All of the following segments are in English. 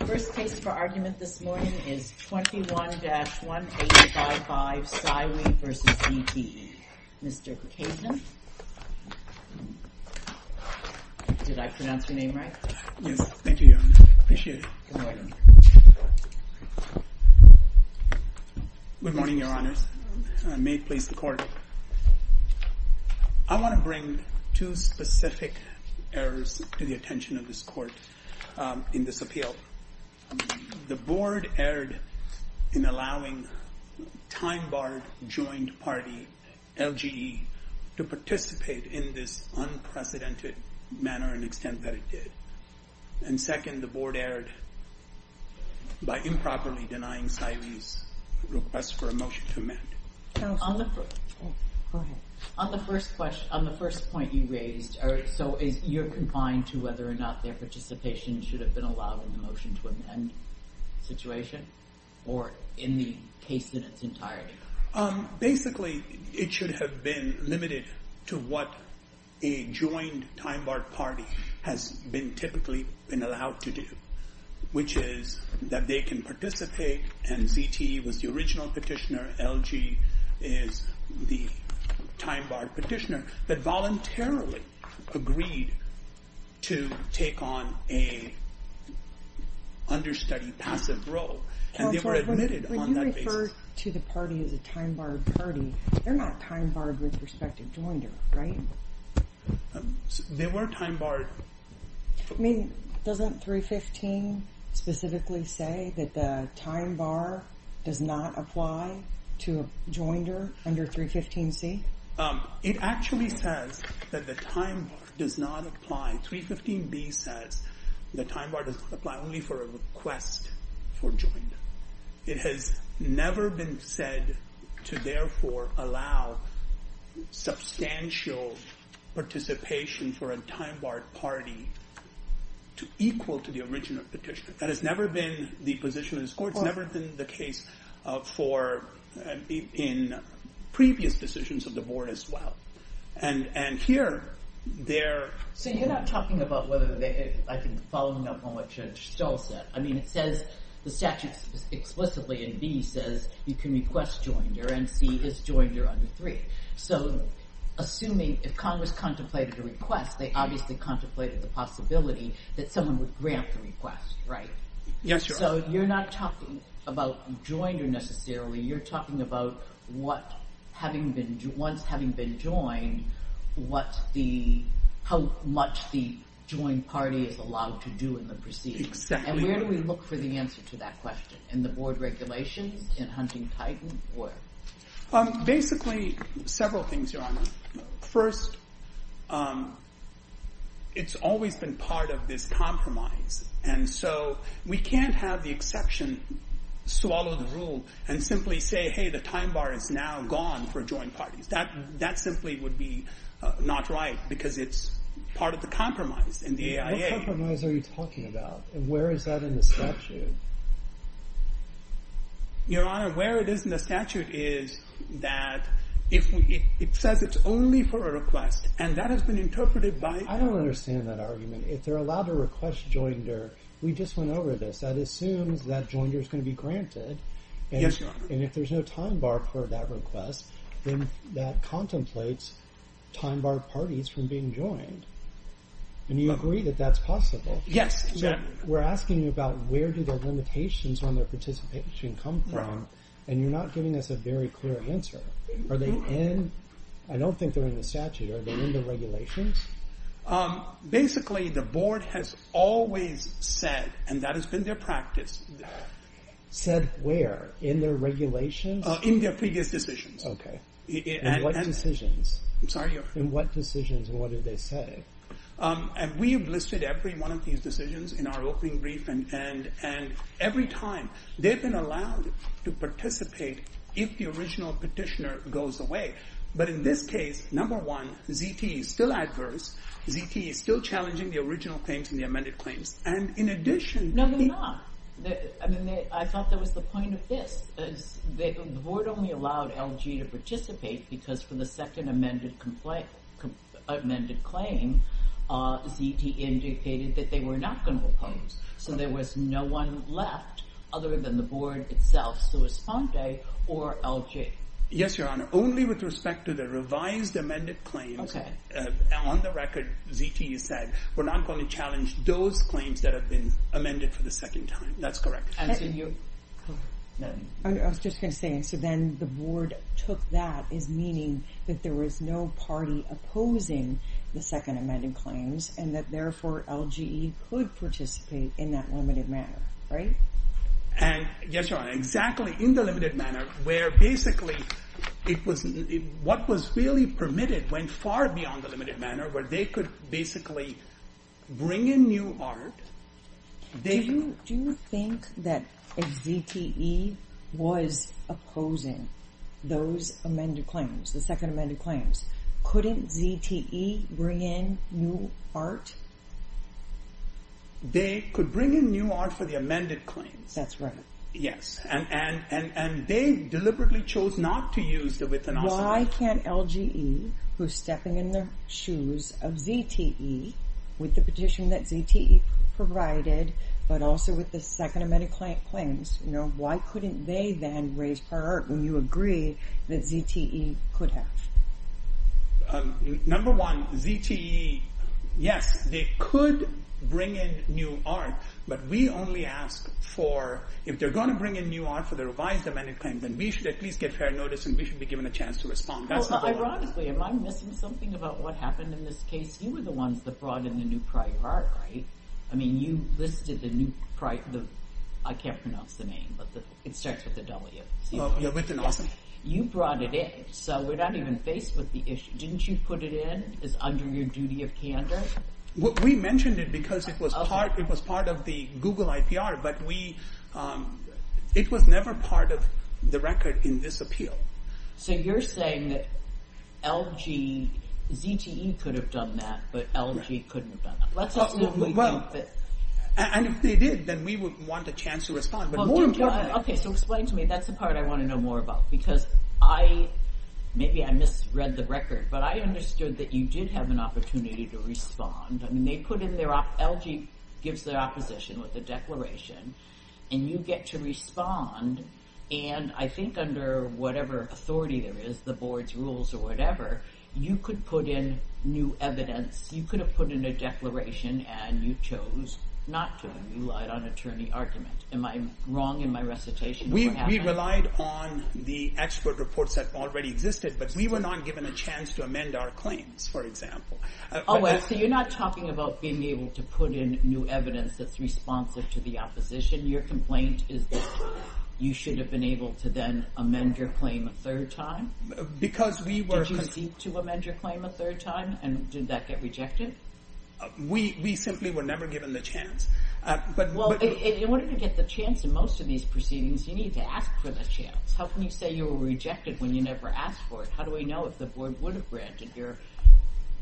The first case for argument this morning is 21-1855, Cywee v. ZTE. Mr. Kocajian. Did I pronounce your name right? Yes. Thank you, Your Honor. I appreciate it. Good morning. I want to bring two specific errors to the attention of this Court in this appeal. The Board erred in allowing time-barred joint party, LGE, to participate in this unprecedented manner and extent that it did. And second, the Board erred by improperly denying Cywee's request for a motion to amend. On the first point you raised, so you're confined to whether or not their participation should have been allowed in the motion to amend situation? Or in the case in its entirety? Basically, it should have been limited to what a joined time-barred party has typically been allowed to do, which is that they can participate, and ZTE was the original petitioner, LGE is the time-barred petitioner, that voluntarily agreed to take on an understudied, passive role, and they were admitted on that basis. When you refer to the party as a time-barred party, they're not time-barred with respect to joinder, right? They were time-barred. I mean, doesn't 315 specifically say that the time-bar does not apply to a joinder under 315C? It actually says that the time-bar does not apply. 315B says the time-bar does not apply only for a request for joinder. It has never been said to, therefore, allow substantial participation for a time-barred party equal to the original petitioner. That has never been the position of this Court. It's never been the case in previous decisions of the Board as well. And here, they're... So you're not talking about whether they, I think, following up on what Judge Stoll said. I mean, it says the statute explicitly in B says you can request joinder, and C is joinder under 3. So assuming if Congress contemplated a request, they obviously contemplated the possibility that someone would grant the request, right? Yes, Your Honor. So you're not talking about joinder necessarily. You're talking about what, once having been joined, how much the joined party is allowed to do in the proceedings. Exactly. And where do we look for the answer to that question? In the Board regulations, in Huntington? Basically, several things, Your Honor. First, it's always been part of this compromise, and so we can't have the exception swallow the rule and simply say, hey, the time-bar is now gone for joined parties. That simply would be not right because it's part of the compromise in the AIA. What compromise are you talking about, and where is that in the statute? Your Honor, where it is in the statute is that it says it's only for a request, and that has been interpreted by— I don't understand that argument. If they're allowed to request joinder, we just went over this. That assumes that joinder is going to be granted. Yes, Your Honor. And if there's no time-bar for that request, then that contemplates time-bar parties from being joined. And you agree that that's possible? Yes. We're asking you about where do the limitations on their participation come from, and you're not giving us a very clear answer. Are they in—I don't think they're in the statute. Are they in the regulations? Basically, the Board has always said, and that has been their practice— Said where? In their regulations? Okay. In what decisions? I'm sorry, Your Honor. In what decisions, and what did they say? And we have listed every one of these decisions in our opening brief, and every time. They've been allowed to participate if the original petitioner goes away. But in this case, number one, ZT is still adverse. ZT is still challenging the original claims and the amended claims. And in addition— No, they're not. I mean, I thought that was the point of this. The Board only allowed LG to participate because for the second amended claim, ZT indicated that they were not going to oppose. So there was no one left other than the Board itself, so it was Fonte or LG. Yes, Your Honor. Only with respect to the revised amended claims. Okay. On the record, ZT has said, we're not going to challenge those claims that have been amended for the second time. That's correct. I was just going to say, so then the Board took that as meaning that there was no party opposing the second amended claims, and that therefore LG could participate in that limited manner, right? Yes, Your Honor. Exactly. In the limited manner, where basically, what was really permitted went far beyond the limited manner, where they could basically bring in new art. Do you think that if ZTE was opposing those amended claims, the second amended claims, couldn't ZTE bring in new art? They could bring in new art for the amended claims. That's right. Yes. And they deliberately chose not to use the with and also not. Why can't LGE, who's stepping in the shoes of ZTE, with the petition that ZTE provided, but also with the second amended claims, why couldn't they then raise prior art when you agree that ZTE could have? Number one, ZTE, yes, they could bring in new art, but we only ask for, if they're going to bring in new art for the revised amended claims, then we should at least get fair notice and we should be given a chance to respond. Well, ironically, am I missing something about what happened in this case? You were the ones that brought in the new prior art, right? I mean, you listed the new, I can't pronounce the name, but it starts with a W. With and also. You brought it in, so we're not even faced with the issue. Didn't you put it in as under your duty of candor? We mentioned it because it was part of the Google IPR, but we, it was never part of the record in this appeal. So you're saying that LG, ZTE could have done that, but LG couldn't have done that. And if they did, then we would want a chance to respond. Okay, so explain to me, that's the part I want to know more about, because I, maybe I misread the record, but I understood that you did have an opportunity to respond. I mean, they put in their, LG gives their opposition with the declaration and you get to respond. And I think under whatever authority there is, the board's rules or whatever, you could put in new evidence. You could have put in a declaration and you chose not to. You relied on attorney argument. Am I wrong in my recitation? We relied on the expert reports that already existed, but we were not given a chance to amend our claims, for example. Oh, so you're not talking about being able to put in new evidence that's responsive to the opposition. Your complaint is that you should have been able to then amend your claim a third time? Because we were... Did you concede to amend your claim a third time and did that get rejected? We simply were never given the chance. Well, in order to get the chance in most of these proceedings, you need to ask for the chance. How can you say you were rejected when you never asked for it? How do we know if the board would have granted your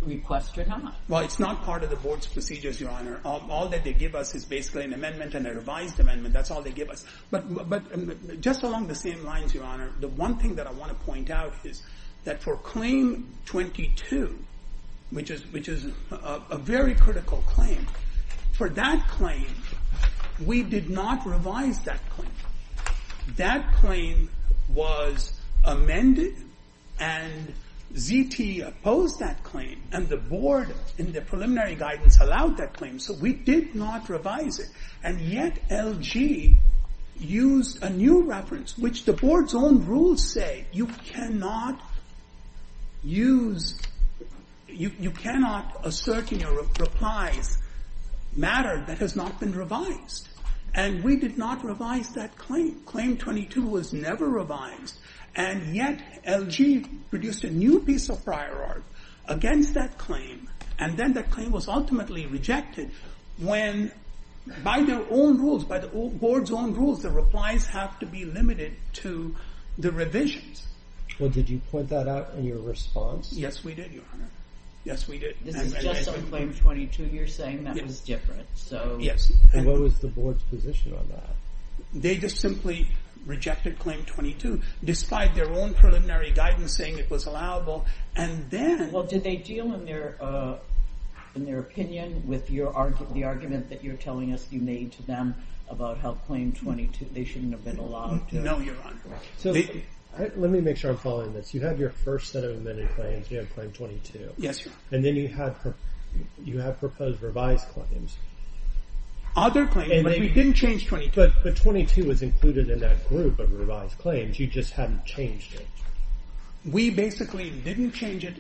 request or not? Well, it's not part of the board's procedures, Your Honor. All that they give us is basically an amendment and a revised amendment. That's all they give us. But just along the same lines, Your Honor, the one thing that I want to point out is that for claim 22, which is a very critical claim, for that claim, we did not revise that claim. That claim was amended and ZT opposed that claim and the board in the preliminary guidance allowed that claim, so we did not revise it. And yet LG used a new reference, which the board's own rules say you cannot use... You cannot assert in your replies matter that has not been revised. And we did not revise that claim. Claim 22 was never revised. And yet LG produced a new piece of prior art against that claim. And then that claim was ultimately rejected when, by their own rules, by the board's own rules, the replies have to be limited to the revisions. Well, did you point that out in your response? Yes, we did, Your Honor. Yes, we did. This is just on claim 22. You're saying that was different, so... Yes. And what was the board's position on that? They just simply rejected claim 22, despite their own preliminary guidance saying it was allowable. And then... Well, did they deal in their opinion with the argument that you're telling us you made to them about how claim 22, they shouldn't have been allowed to... No, Your Honor. Let me make sure I'm following this. You had your first set of amended claims. You had claim 22. Yes, Your Honor. And then you had proposed revised claims. Other claims, but we didn't change 22. But 22 was included in that group of revised claims. You just hadn't changed it. We basically didn't change it.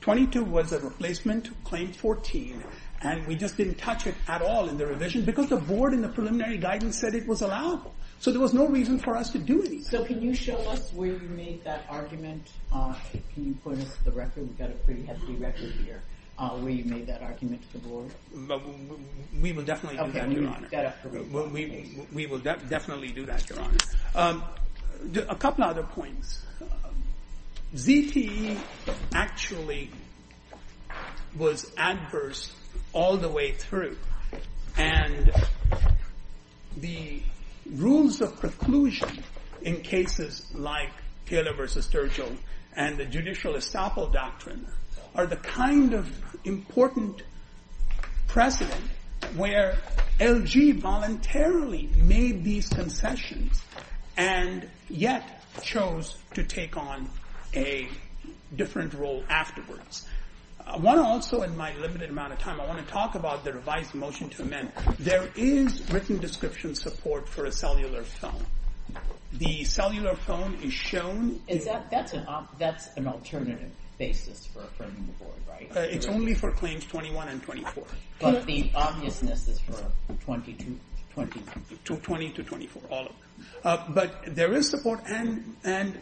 22 was a replacement claim 14, and we just didn't touch it at all in the revision, because the board in the preliminary guidance said it was allowable. So there was no reason for us to do anything. So can you show us where you made that argument? Can you point us to the record? We've got a pretty hefty record here. Where you made that argument to the board. We will definitely do that, Your Honor. Okay, we've got a pretty good case. We will definitely do that, Your Honor. A couple of other points. ZTE actually was adverse all the way through. And the rules of preclusion in cases like Taylor v. Durgell and the judicial estoppel doctrine are the kind of important precedent where LG voluntarily made these concessions and yet chose to take on a different role afterwards. I want to also, in my limited amount of time, I want to talk about the revised motion to amend. There is written description support for a cellular phone. The cellular phone is shown. That's an alternative basis for affirming the board, right? It's only for claims 21 and 24. But the obviousness is for 22, 24, all of them. But there is support, and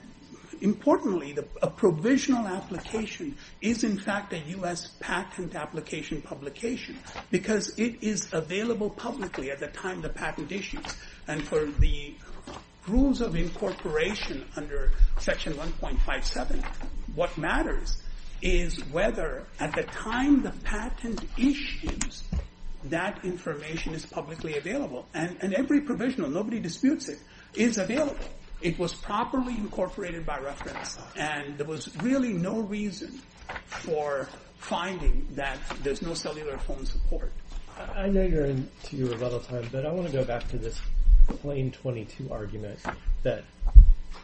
importantly, a provisional application is in fact a U.S. patent application publication because it is available publicly at the time the patent issues. And for the rules of incorporation under Section 1.57, what matters is whether at the time the patent issues, that information is publicly available. And every provisional, nobody disputes it, is available. It was properly incorporated by reference. And there was really no reason for finding that there's no cellular phone support. I know you're into your rebuttal time, but I want to go back to this plain 22 argument that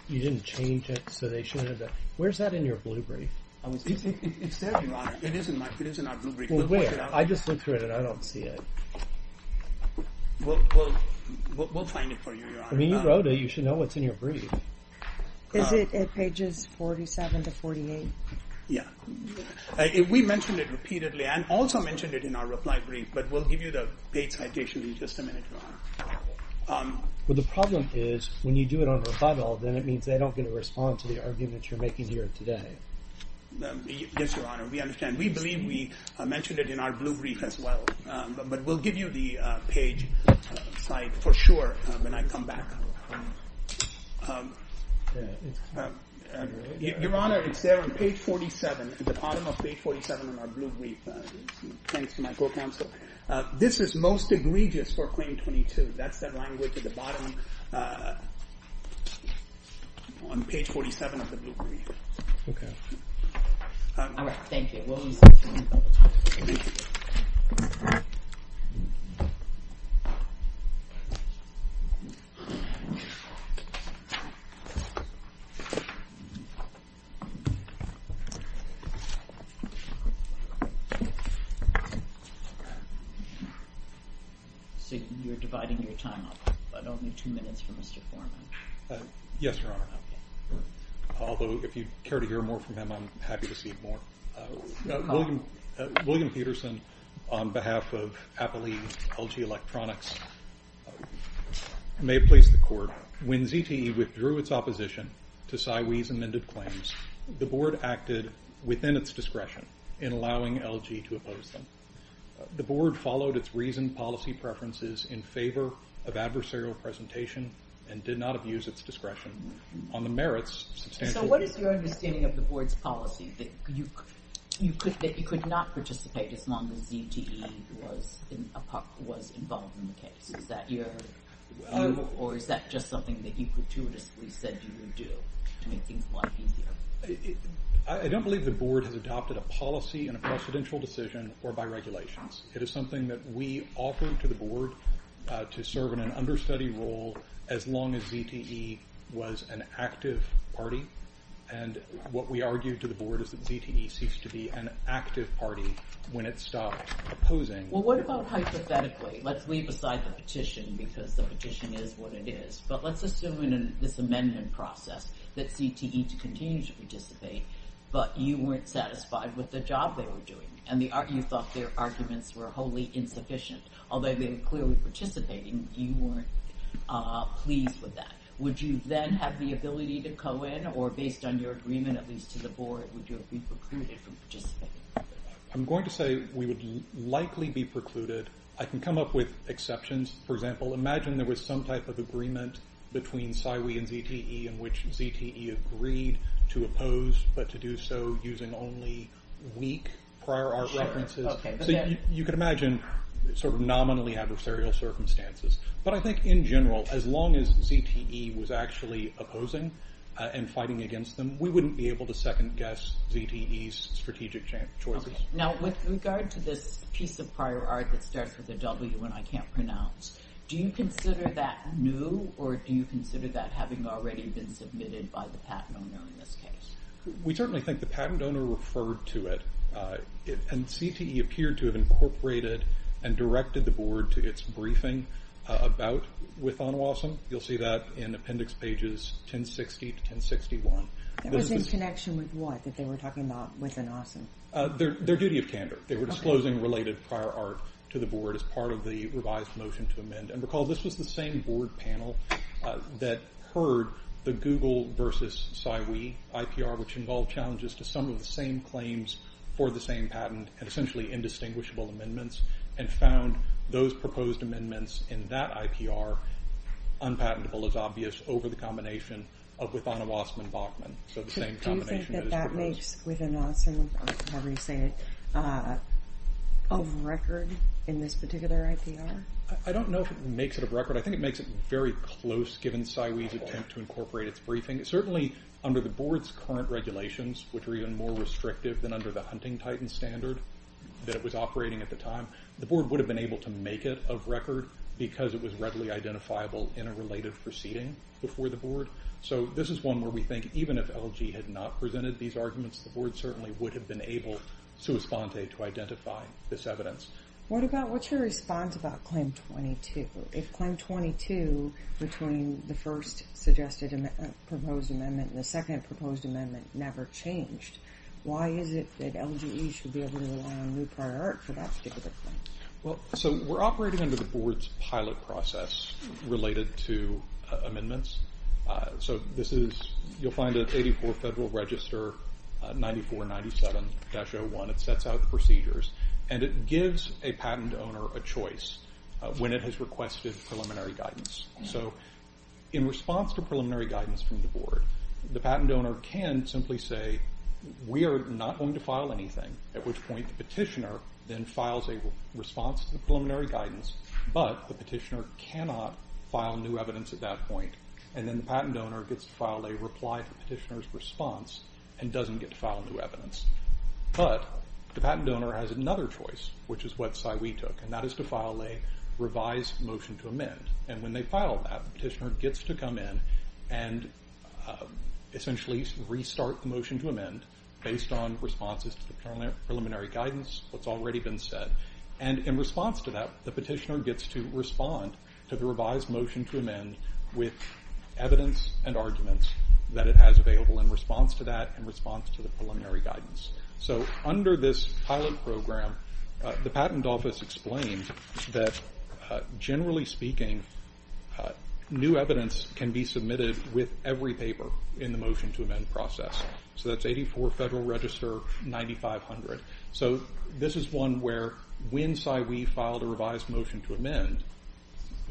you didn't change it so they shouldn't have it. Where's that in your blue brief? It's there, Your Honor. It is in our blue brief. Well, wait. I just looked through it and I don't see it. We'll find it for you, Your Honor. I mean, you wrote it. You should know what's in your brief. Is it at pages 47 to 48? Yeah. We mentioned it repeatedly. I also mentioned it in our reply brief, but we'll give you the page citation in just a minute, Your Honor. Well, the problem is when you do it on rebuttal, then it means they don't get to respond to the argument you're making here today. Yes, Your Honor. We understand. We believe we mentioned it in our blue brief as well. But we'll give you the page site for sure when I come back. Your Honor, it's there on page 47, at the bottom of page 47 in our blue brief. Thanks to my co-counsel. This is most egregious for claim 22. That's the language at the bottom on page 47 of the blue brief. Okay. All right. Thank you. Well, we'll use this for rebuttal time. So you're dividing your time up, but only two minutes for Mr. Foreman. Yes, Your Honor. Although, if you care to hear more from him, I'm happy to see more. William Peterson, on behalf of Appley LG Electronics, may it please the Court. When ZTE withdrew its opposition to Sywee's amended claims, the Board acted within its discretion in allowing LG to oppose them. The Board followed its reasoned policy preferences in favor of adversarial presentation and did not abuse its discretion. On the merits, substantial So what is your understanding of the Board's policy, that you could not participate as long as ZTE was involved in the case? Or is that just something that you gratuitously said you would do to make things a lot easier? I don't believe the Board has adopted a policy in a presidential decision or by regulations. It is something that we offered to the Board to serve in an understudy role as long as ZTE was an active party. And what we argued to the Board is that ZTE ceased to be an active party when it stopped opposing. Well, what about hypothetically? Let's leave aside the petition, because the petition is what it is. But let's assume in this amendment process that ZTE continues to participate, but you weren't satisfied with the job they were doing. And you thought their arguments were wholly insufficient. Although they were clearly participating, you weren't pleased with that. Would you then have the ability to co-in, or based on your agreement at least to the Board, would you have been precluded from participating? I'm going to say we would likely be precluded. I can come up with exceptions. For example, imagine there was some type of agreement between PSYWI and ZTE in which ZTE agreed to oppose, but to do so using only weak prior art references. You can imagine sort of nominally adversarial circumstances. But I think in general, as long as ZTE was actually opposing and fighting against them, we wouldn't be able to second-guess ZTE's strategic choices. Now, with regard to this piece of prior art that starts with a W and I can't pronounce, do you consider that new, or do you consider that having already been submitted by the patent owner in this case? We certainly think the patent owner referred to it, and ZTE appeared to have incorporated and directed the Board to its briefing about Withanawasam. You'll see that in appendix pages 1060 to 1061. That was in connection with what, that they were talking about Withanawasam? Their duty of candor. They were disclosing related prior art to the Board as part of the revised motion to amend. And recall, this was the same Board panel that heard the Google versus PSYWI IPR, which involved challenges to some of the same claims for the same patent, and essentially indistinguishable amendments, and found those proposed amendments in that IPR unpatentable, as obvious, over the combination of Withanawasam and Bachman. Do you think that that makes Withanawasam, however you say it, of record in this particular IPR? I don't know if it makes it of record. I think it makes it very close, given PSYWI's attempt to incorporate its briefing. Certainly under the Board's current regulations, which are even more restrictive than under the Hunting Titans standard that it was operating at the time, the Board would have been able to make it of record So this is one where we think, even if LGE had not presented these arguments, the Board certainly would have been able, sua sponte, to identify this evidence. What's your response about Claim 22? If Claim 22, between the first suggested proposed amendment and the second proposed amendment, never changed, why is it that LGE should be able to rely on new prior art for that particular claim? We're operating under the Board's pilot process related to amendments. You'll find that 84 Federal Register 9497-01, it sets out the procedures, and it gives a patent owner a choice when it has requested preliminary guidance. In response to preliminary guidance from the Board, the patent owner can simply say, we are not going to file anything. At which point the petitioner then files a response to the preliminary guidance, but the petitioner cannot file new evidence at that point. And then the patent owner gets to file a reply to the petitioner's response and doesn't get to file new evidence. But the patent owner has another choice, which is what PSYWI took, and that is to file a revised motion to amend. And when they file that, the petitioner gets to come in and essentially restart the motion to amend, based on responses to the preliminary guidance, what's already been said. And in response to that, the petitioner gets to respond to the revised motion to amend with evidence and arguments that it has available in response to that and response to the preliminary guidance. So under this pilot program, the Patent Office explains that, generally speaking, new evidence can be submitted with every paper in the motion to amend process. So that's 84 Federal Register, 9500. So this is one where when PSYWI filed a revised motion to amend,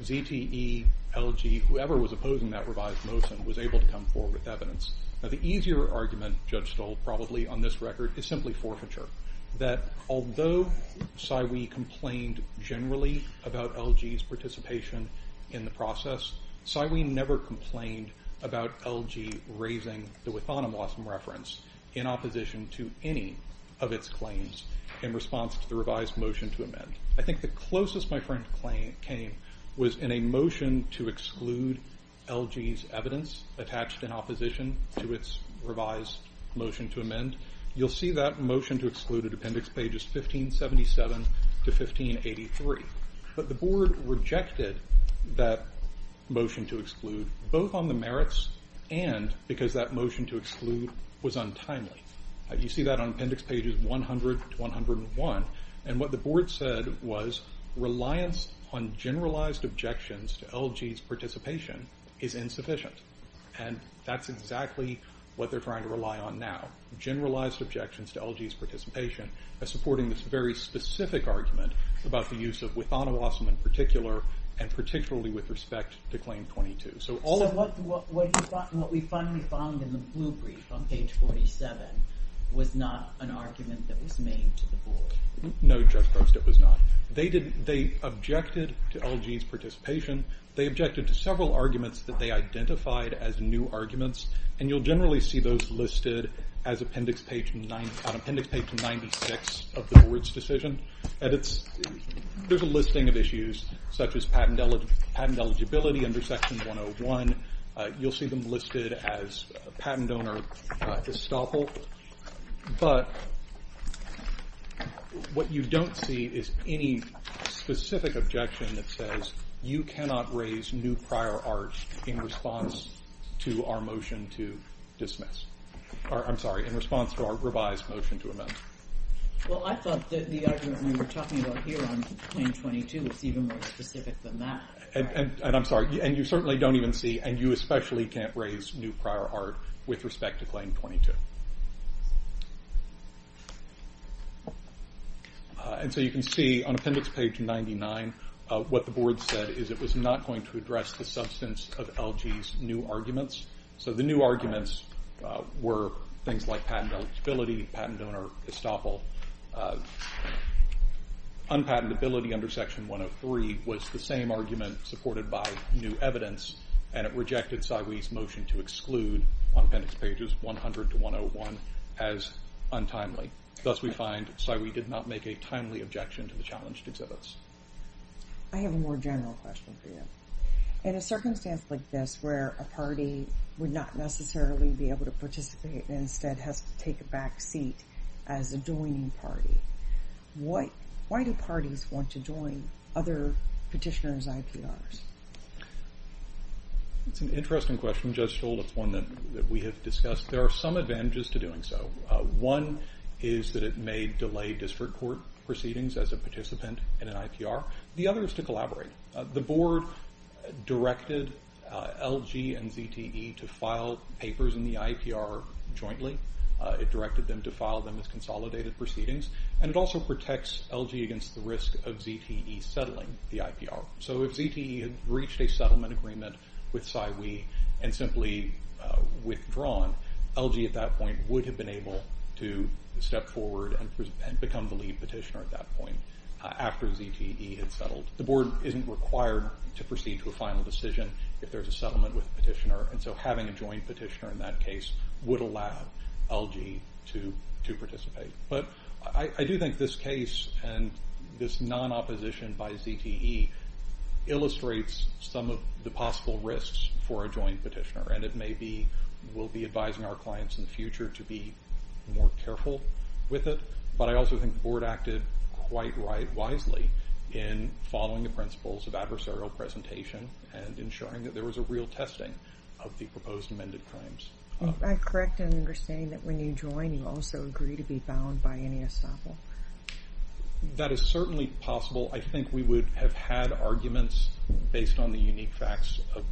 ZTE, LG, whoever was opposing that revised motion was able to come forward with evidence. Now the easier argument, Judge Stoll probably on this record, is simply forfeiture. That although PSYWI complained generally about LG's participation in the process, PSYWI never complained about LG raising the Withonam-Lawson reference in opposition to any of its claims in response to the revised motion to amend. I think the closest my friend came was in a motion to exclude LG's evidence and you'll see that motion to exclude at appendix pages 1577 to 1583. But the board rejected that motion to exclude both on the merits and because that motion to exclude was untimely. You see that on appendix pages 100 to 101. And what the board said was reliance on generalized objections to LG's participation is insufficient. And that's exactly what they're trying to rely on now. Generalized objections to LG's participation by supporting this very specific argument about the use of Withonam-Lawson in particular and particularly with respect to Claim 22. So what we finally found in the blue brief on page 47 was not an argument that was made to the board. No, Judge Gross, it was not. They objected to LG's participation. They objected to several arguments that they identified as new arguments and you'll generally see those listed as appendix page 96 of the board's decision. There's a listing of issues such as patent eligibility under section 101. You'll see them listed as patent owner estoppel. But what you don't see is any specific objection that says you cannot raise new prior art in response to our revised motion to amend. Well, I thought that the argument we were talking about here on Claim 22 was even more specific than that. And I'm sorry, you certainly don't even see and you especially can't raise new prior art with respect to Claim 22. And so you can see on appendix page 99 what the board said is it was not going to address the substance of LG's new arguments. So the new arguments were things like patent eligibility, patent owner estoppel. Unpatentability under section 103 was the same argument supported by new evidence and it rejected SAIWI's motion to exclude on appendix pages 100 to 101 as untimely. Thus we find SAIWI did not make a timely objection to the challenged exhibits. I have a more general question for you. In a circumstance like this where a party would not necessarily be able to participate and instead has to take a back seat as a joining party, why do parties want to join other petitioners' IPRs? It's an interesting question, Judge Scholl. It's one that we have discussed. There are some advantages to doing so. One is that it may delay district court proceedings as a participant in an IPR. The other is to collaborate. The board directed LG and ZTE to file papers in the IPR jointly. It directed them to file them as consolidated proceedings and it also protects LG against the risk of ZTE settling the IPR. So if ZTE had reached a settlement agreement with SAIWI and simply withdrawn, LG at that point would have been able to step forward and become the lead petitioner at that point after ZTE had settled. The board isn't required to proceed to a final decision if there's a settlement with a petitioner and so having a joint petitioner in that case would allow LG to participate. But I do think this case and this non-opposition by ZTE illustrates some of the possible risks for a joint petitioner and it may be we'll be advising our clients in the future to be more careful with it, but I also think the board acted quite wisely in following the principles of adversarial presentation and ensuring that there was a real testing of the proposed amended claims. I correct in understanding that when you join you also agree to be bound by any estoppel. That is certainly possible. I think we would have had arguments based on the unique facts of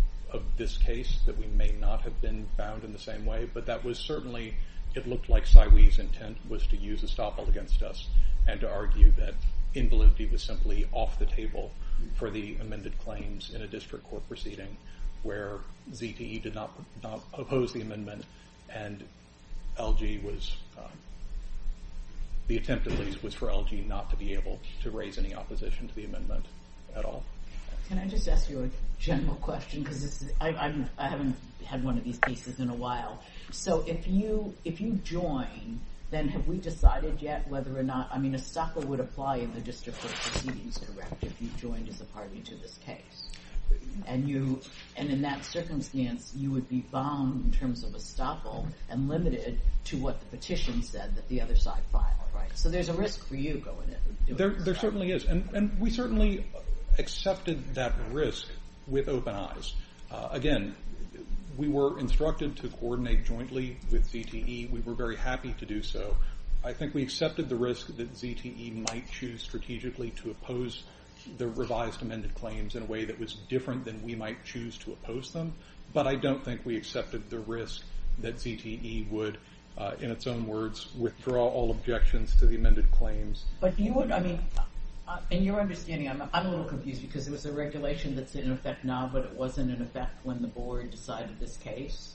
this case that we may not have been bound in the same way, but that was certainly it looked like SAIWI's intent was to use estoppel against us and to argue that invalidity was simply off the table for the amended claims in a district court proceeding where ZTE did not oppose the amendment and the attempt at least was for LG not to be able to raise any opposition to the amendment at all. Can I just ask you a general question because I haven't had one of these pieces in a while. So if you join then have we decided yet whether or not, I mean estoppel would apply in the district court proceedings correct if you joined as a party to this case and in that circumstance you would be bound in terms of estoppel and limited to what the petition said that the other side filed, right? So there's a risk for you going in. There certainly is and we certainly accepted that risk with open eyes. Again, we were instructed to coordinate jointly with ZTE. We were very happy to do so. I think we accepted the risk that ZTE might choose strategically to oppose the revised amended claims in a way that was different than we might choose to oppose them but I don't think we accepted the risk that ZTE would, in its own words, withdraw all objections to the amended claims. But you would, I mean, in your understanding, I'm a little confused because it was a regulation that's in effect now but it wasn't in effect when the board decided this case.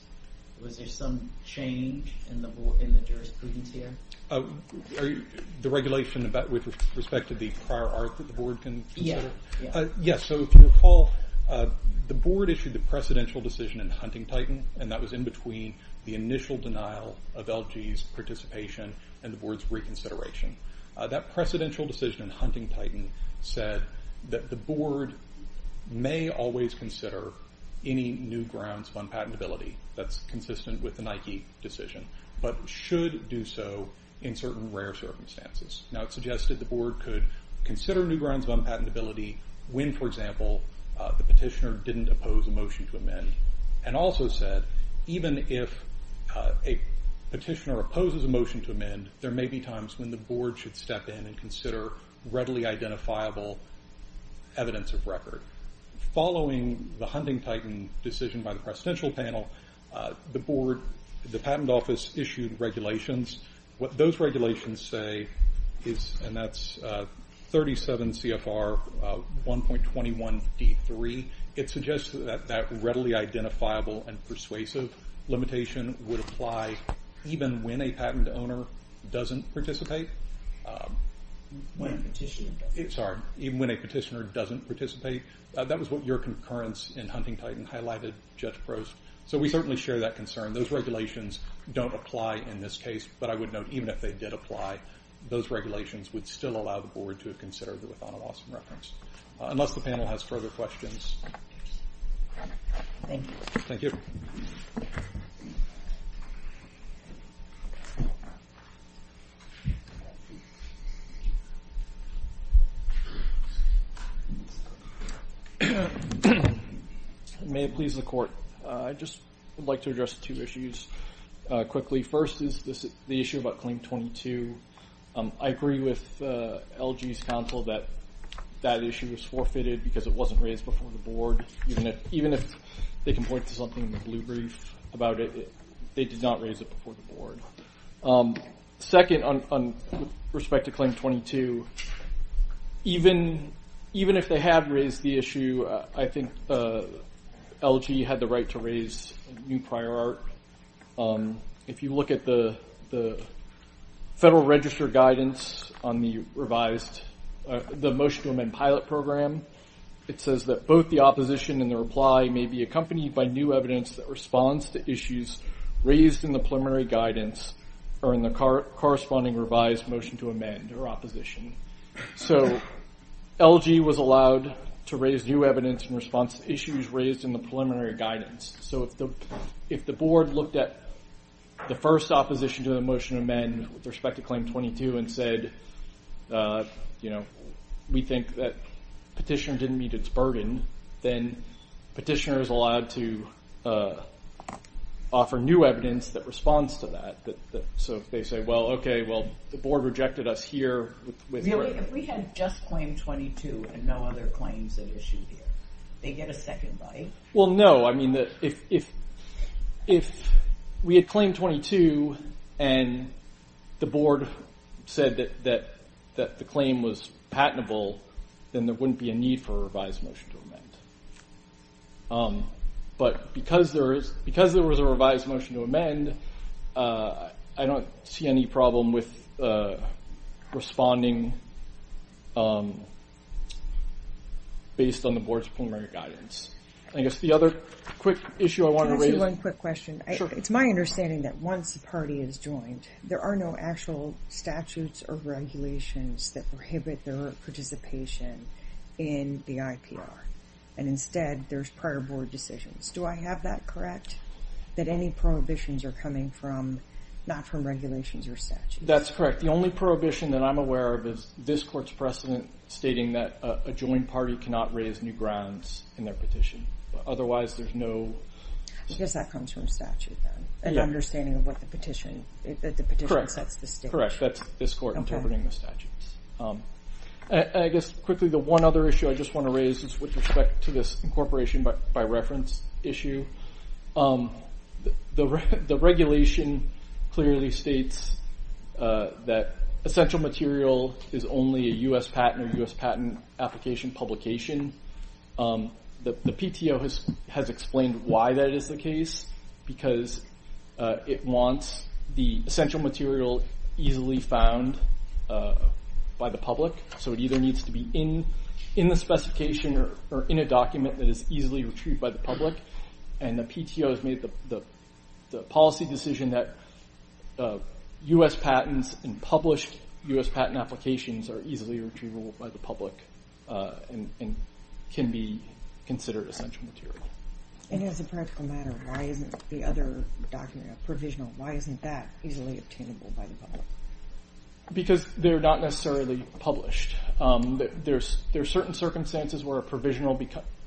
Was there some change in the jurisprudence here? The regulation with respect to the prior art that the board can consider? Yes. Yes, so if you recall, the board issued the precedential decision in Hunting Titan and that was in between the initial denial of LG's participation and the board's reconsideration. That precedential decision in Hunting Titan said that the board may always consider any new grounds of unpatentability that's consistent with the Nike decision but should do so in certain rare circumstances. Now it suggested the board could consider new grounds of unpatentability when, for example, the petitioner didn't oppose a motion to amend and also said even if a petitioner opposes a motion to amend there may be times when the board should step in and consider readily identifiable evidence of record. Following the Hunting Titan decision by the precedential panel, the board, the patent office issued regulations. What those regulations say is, and that's 37 CFR 1.21 D3, it suggests that that readily identifiable and persuasive limitation would apply even when a patent owner doesn't participate. When a petitioner doesn't. That was what your concurrence in Hunting Titan highlighted, Judge Prost. So we certainly share that concern. Those regulations don't apply in this case, but I would note even if they did apply, those regulations would still allow the board to have considered it without a loss of reference. Unless the panel has further questions. Thank you. May it please the court. I'd just like to address two issues quickly. First is the issue about Claim 22. I agree with LG's counsel that that issue was forfeited because it wasn't raised before the board. Even if they can point to something in the blue brief about it, they did not raise it before the board. Second, with respect to Claim 22, even if they have raised the issue, I think LG had the right to raise a new prior art. If you look at the Federal Register guidance on the Motion to Amend Pilot Program, it says that both the opposition and the reply may be accompanied by new evidence that responds to issues raised in the preliminary guidance or in the corresponding revised Motion to Amend or opposition. So LG was allowed to raise new evidence in response to issues raised in the preliminary guidance. So if the board looked at the first opposition to the Motion to Amend with respect to Claim 22 and said, you know, we think that petitioner didn't meet its burden, then petitioner is allowed to offer new evidence that responds to that. So if they say, well, okay, well, the board rejected us here. Really? If we had just Claim 22 and no other claims had issued here, they get a second bite? Well, no. I mean, if we had Claim 22 and the board said that the claim was patentable, then there wouldn't be a need for a revised Motion to Amend. But because there is because there was a revised Motion to Amend, I don't see any problem with responding based on the board's preliminary guidance. I guess the other quick issue I want to raise is one quick question. It's my understanding that once the party is joined, there are no actual statutes or regulations that prohibit their participation in the IPR. And instead, there's prior board decisions. Do I have that correct? That any prohibitions are coming from not from regulations or statutes? That's correct. The only prohibition that I'm aware of is this court's precedent stating that a joined party cannot raise new grounds in their petition. Otherwise, there's no... Because that comes from statute then, an understanding of what the petition, that the petition sets the standard. Correct. That's this court interpreting the statutes. And I guess, quickly, the one other issue I just want to raise is with respect to this incorporation by reference issue. The regulation clearly states that essential material is only a U.S. patent or U.S. patent application publication. The PTO has explained why that is the case because it wants the essential material easily found by the public. So it either needs to be in the specification or in a document that is easily retrieved by the public. And the PTO has made the policy decision that U.S. patents and published U.S. patent applications are easily retrievable by the public and can be considered essential material. And as a practical matter, why isn't the other document, a provisional, why isn't that easily obtainable by the public? Because they're not necessarily published. There are certain circumstances where a provisional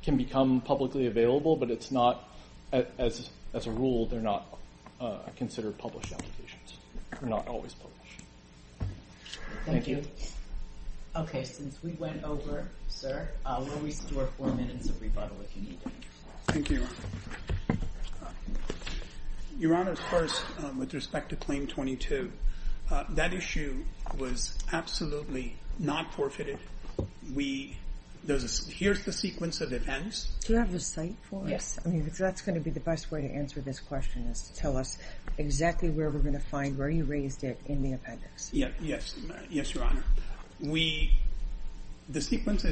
can become publicly available, but it's not, as a rule, they're not considered published applications. They're not always published. Thank you. Okay, since we went over, sir, we'll restore four minutes of rebuttal if you need to. Thank you, Your Honor. Your Honor, first, with respect to Claim 22, that issue was absolutely not forfeited. Here's the sequence of events. Do you have the cite for us? Yes, that's going to be the best way to answer this question is to tell us exactly where we're going to find where you raised it in the appendix. Yes, Your Honor. The sequence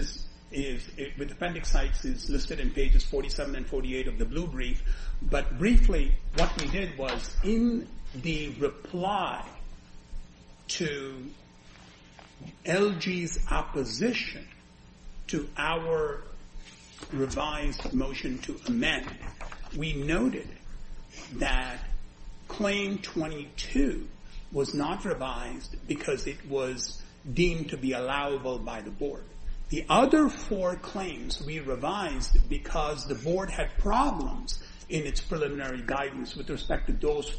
with appendix cites is listed in pages 47 and 48 of the blue brief, but briefly what we did was in the reply to LG's opposition to our revised motion to amend, we noted that Claim 22 was not revised because it was deemed to be allowable by the Board. The other four claims we revised because the Board had problems in its preliminary guidance with respect to those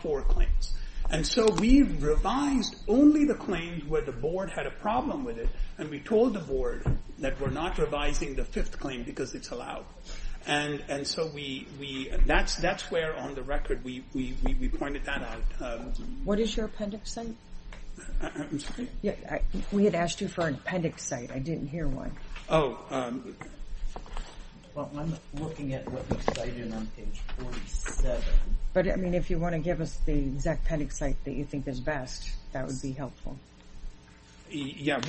four claims. And so we revised only the claims where the Board had a problem with it, and we told the Board that we're not revising the fifth claim because it's allowable. And so that's where on the record we pointed that out. What is your appendix cite? I'm sorry? We had asked you for an appendix cite. I didn't hear one. Oh. Well, I'm looking at what you cited on page 47. But, I mean, if you want to give us the exact appendix cite that you think is best, that would be helpful. Yeah.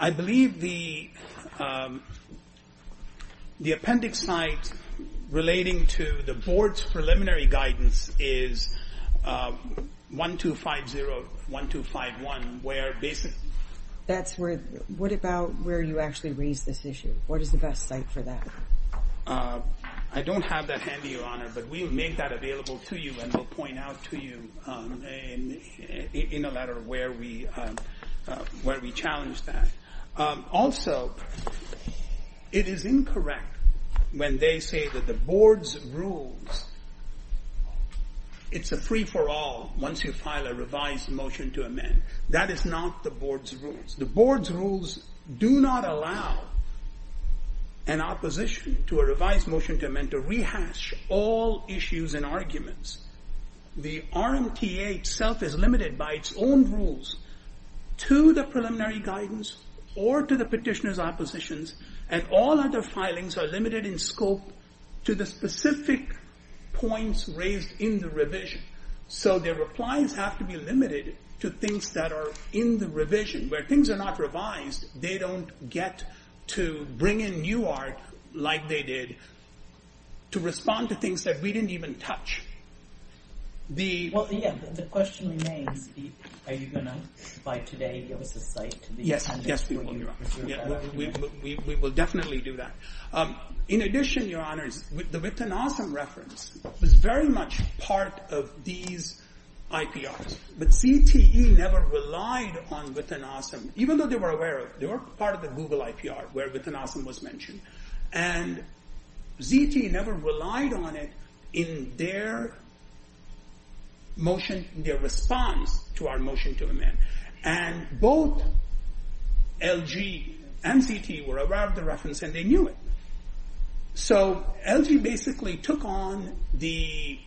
I believe the appendix cite relating to the Board's preliminary guidance is 1250-1251. What about where you actually raised this issue? What is the best cite for that? I don't have that handy, Your Honor, but we will make that available to you, and we'll point out to you in a letter where we challenge that. Also, it is incorrect when they say that the Board's rules, it's a free-for-all once you file a revised motion to amend. That is not the Board's rules. The Board's rules do not allow an opposition to a revised motion to amend to rehash all issues and arguments. The RMTA itself is limited by its own rules to the preliminary guidance or to the petitioner's oppositions, and all other filings are limited in scope to the specific points raised in the revision. So their replies have to be limited to things that are in the revision. Where things are not revised, they don't get to bring in new art like they did to respond to things that we didn't even touch. The question remains, are you going to, by today, give us a cite to the appendix? Yes, we will, Your Honor. We will definitely do that. In addition, Your Honors, the Wittgenossam reference was very much part of these IPRs, but ZTE never relied on Wittgenossam, even though they were aware of it. They were part of the Google IPR where Wittgenossam was mentioned, and ZTE never relied on it in their motion, in their response to our motion to amend. And both LG and ZTE were aware of the reference, and they knew it. So LG basically took on the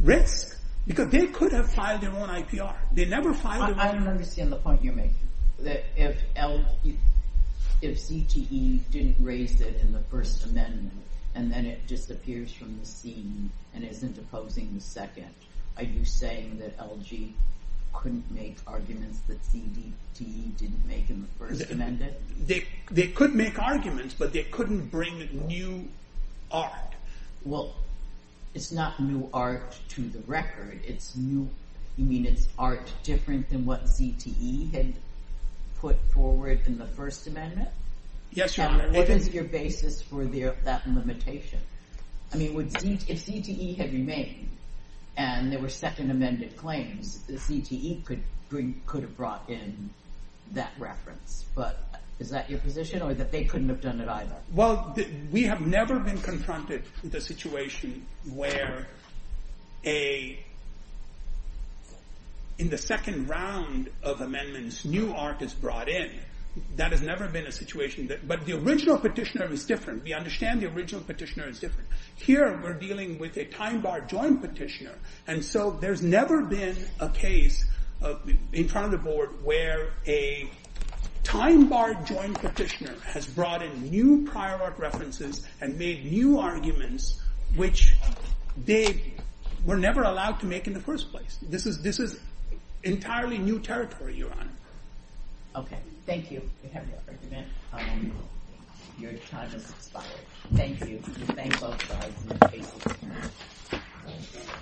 risk, because they could have filed their own IPR. I don't understand the point you're making. If ZTE didn't raise it in the First Amendment, and then it disappears from the scene and isn't opposing the Second, are you saying that LG couldn't make arguments that ZTE didn't make in the First Amendment? They could make arguments, but they couldn't bring new art. Well, it's not new art to the record. You mean it's art different than what ZTE had put forward in the First Amendment? Yes, Your Honor. And what is your basis for that limitation? I mean, if ZTE had remained, and there were second amended claims, ZTE could have brought in that reference. But is that your position, or that they couldn't have done it either? Well, we have never been confronted with a situation where, in the second round of amendments, new art is brought in. That has never been a situation. But the original petitioner is different. We understand the original petitioner is different. Here, we're dealing with a time-barred joint petitioner. And so there's never been a case in front of the board where a time-barred joint petitioner has brought in new prior art references and made new arguments which they were never allowed to make in the first place. This is entirely new territory, Your Honor. Okay. Thank you. You have your argument. Your time has expired. Thank you. Thank both sides.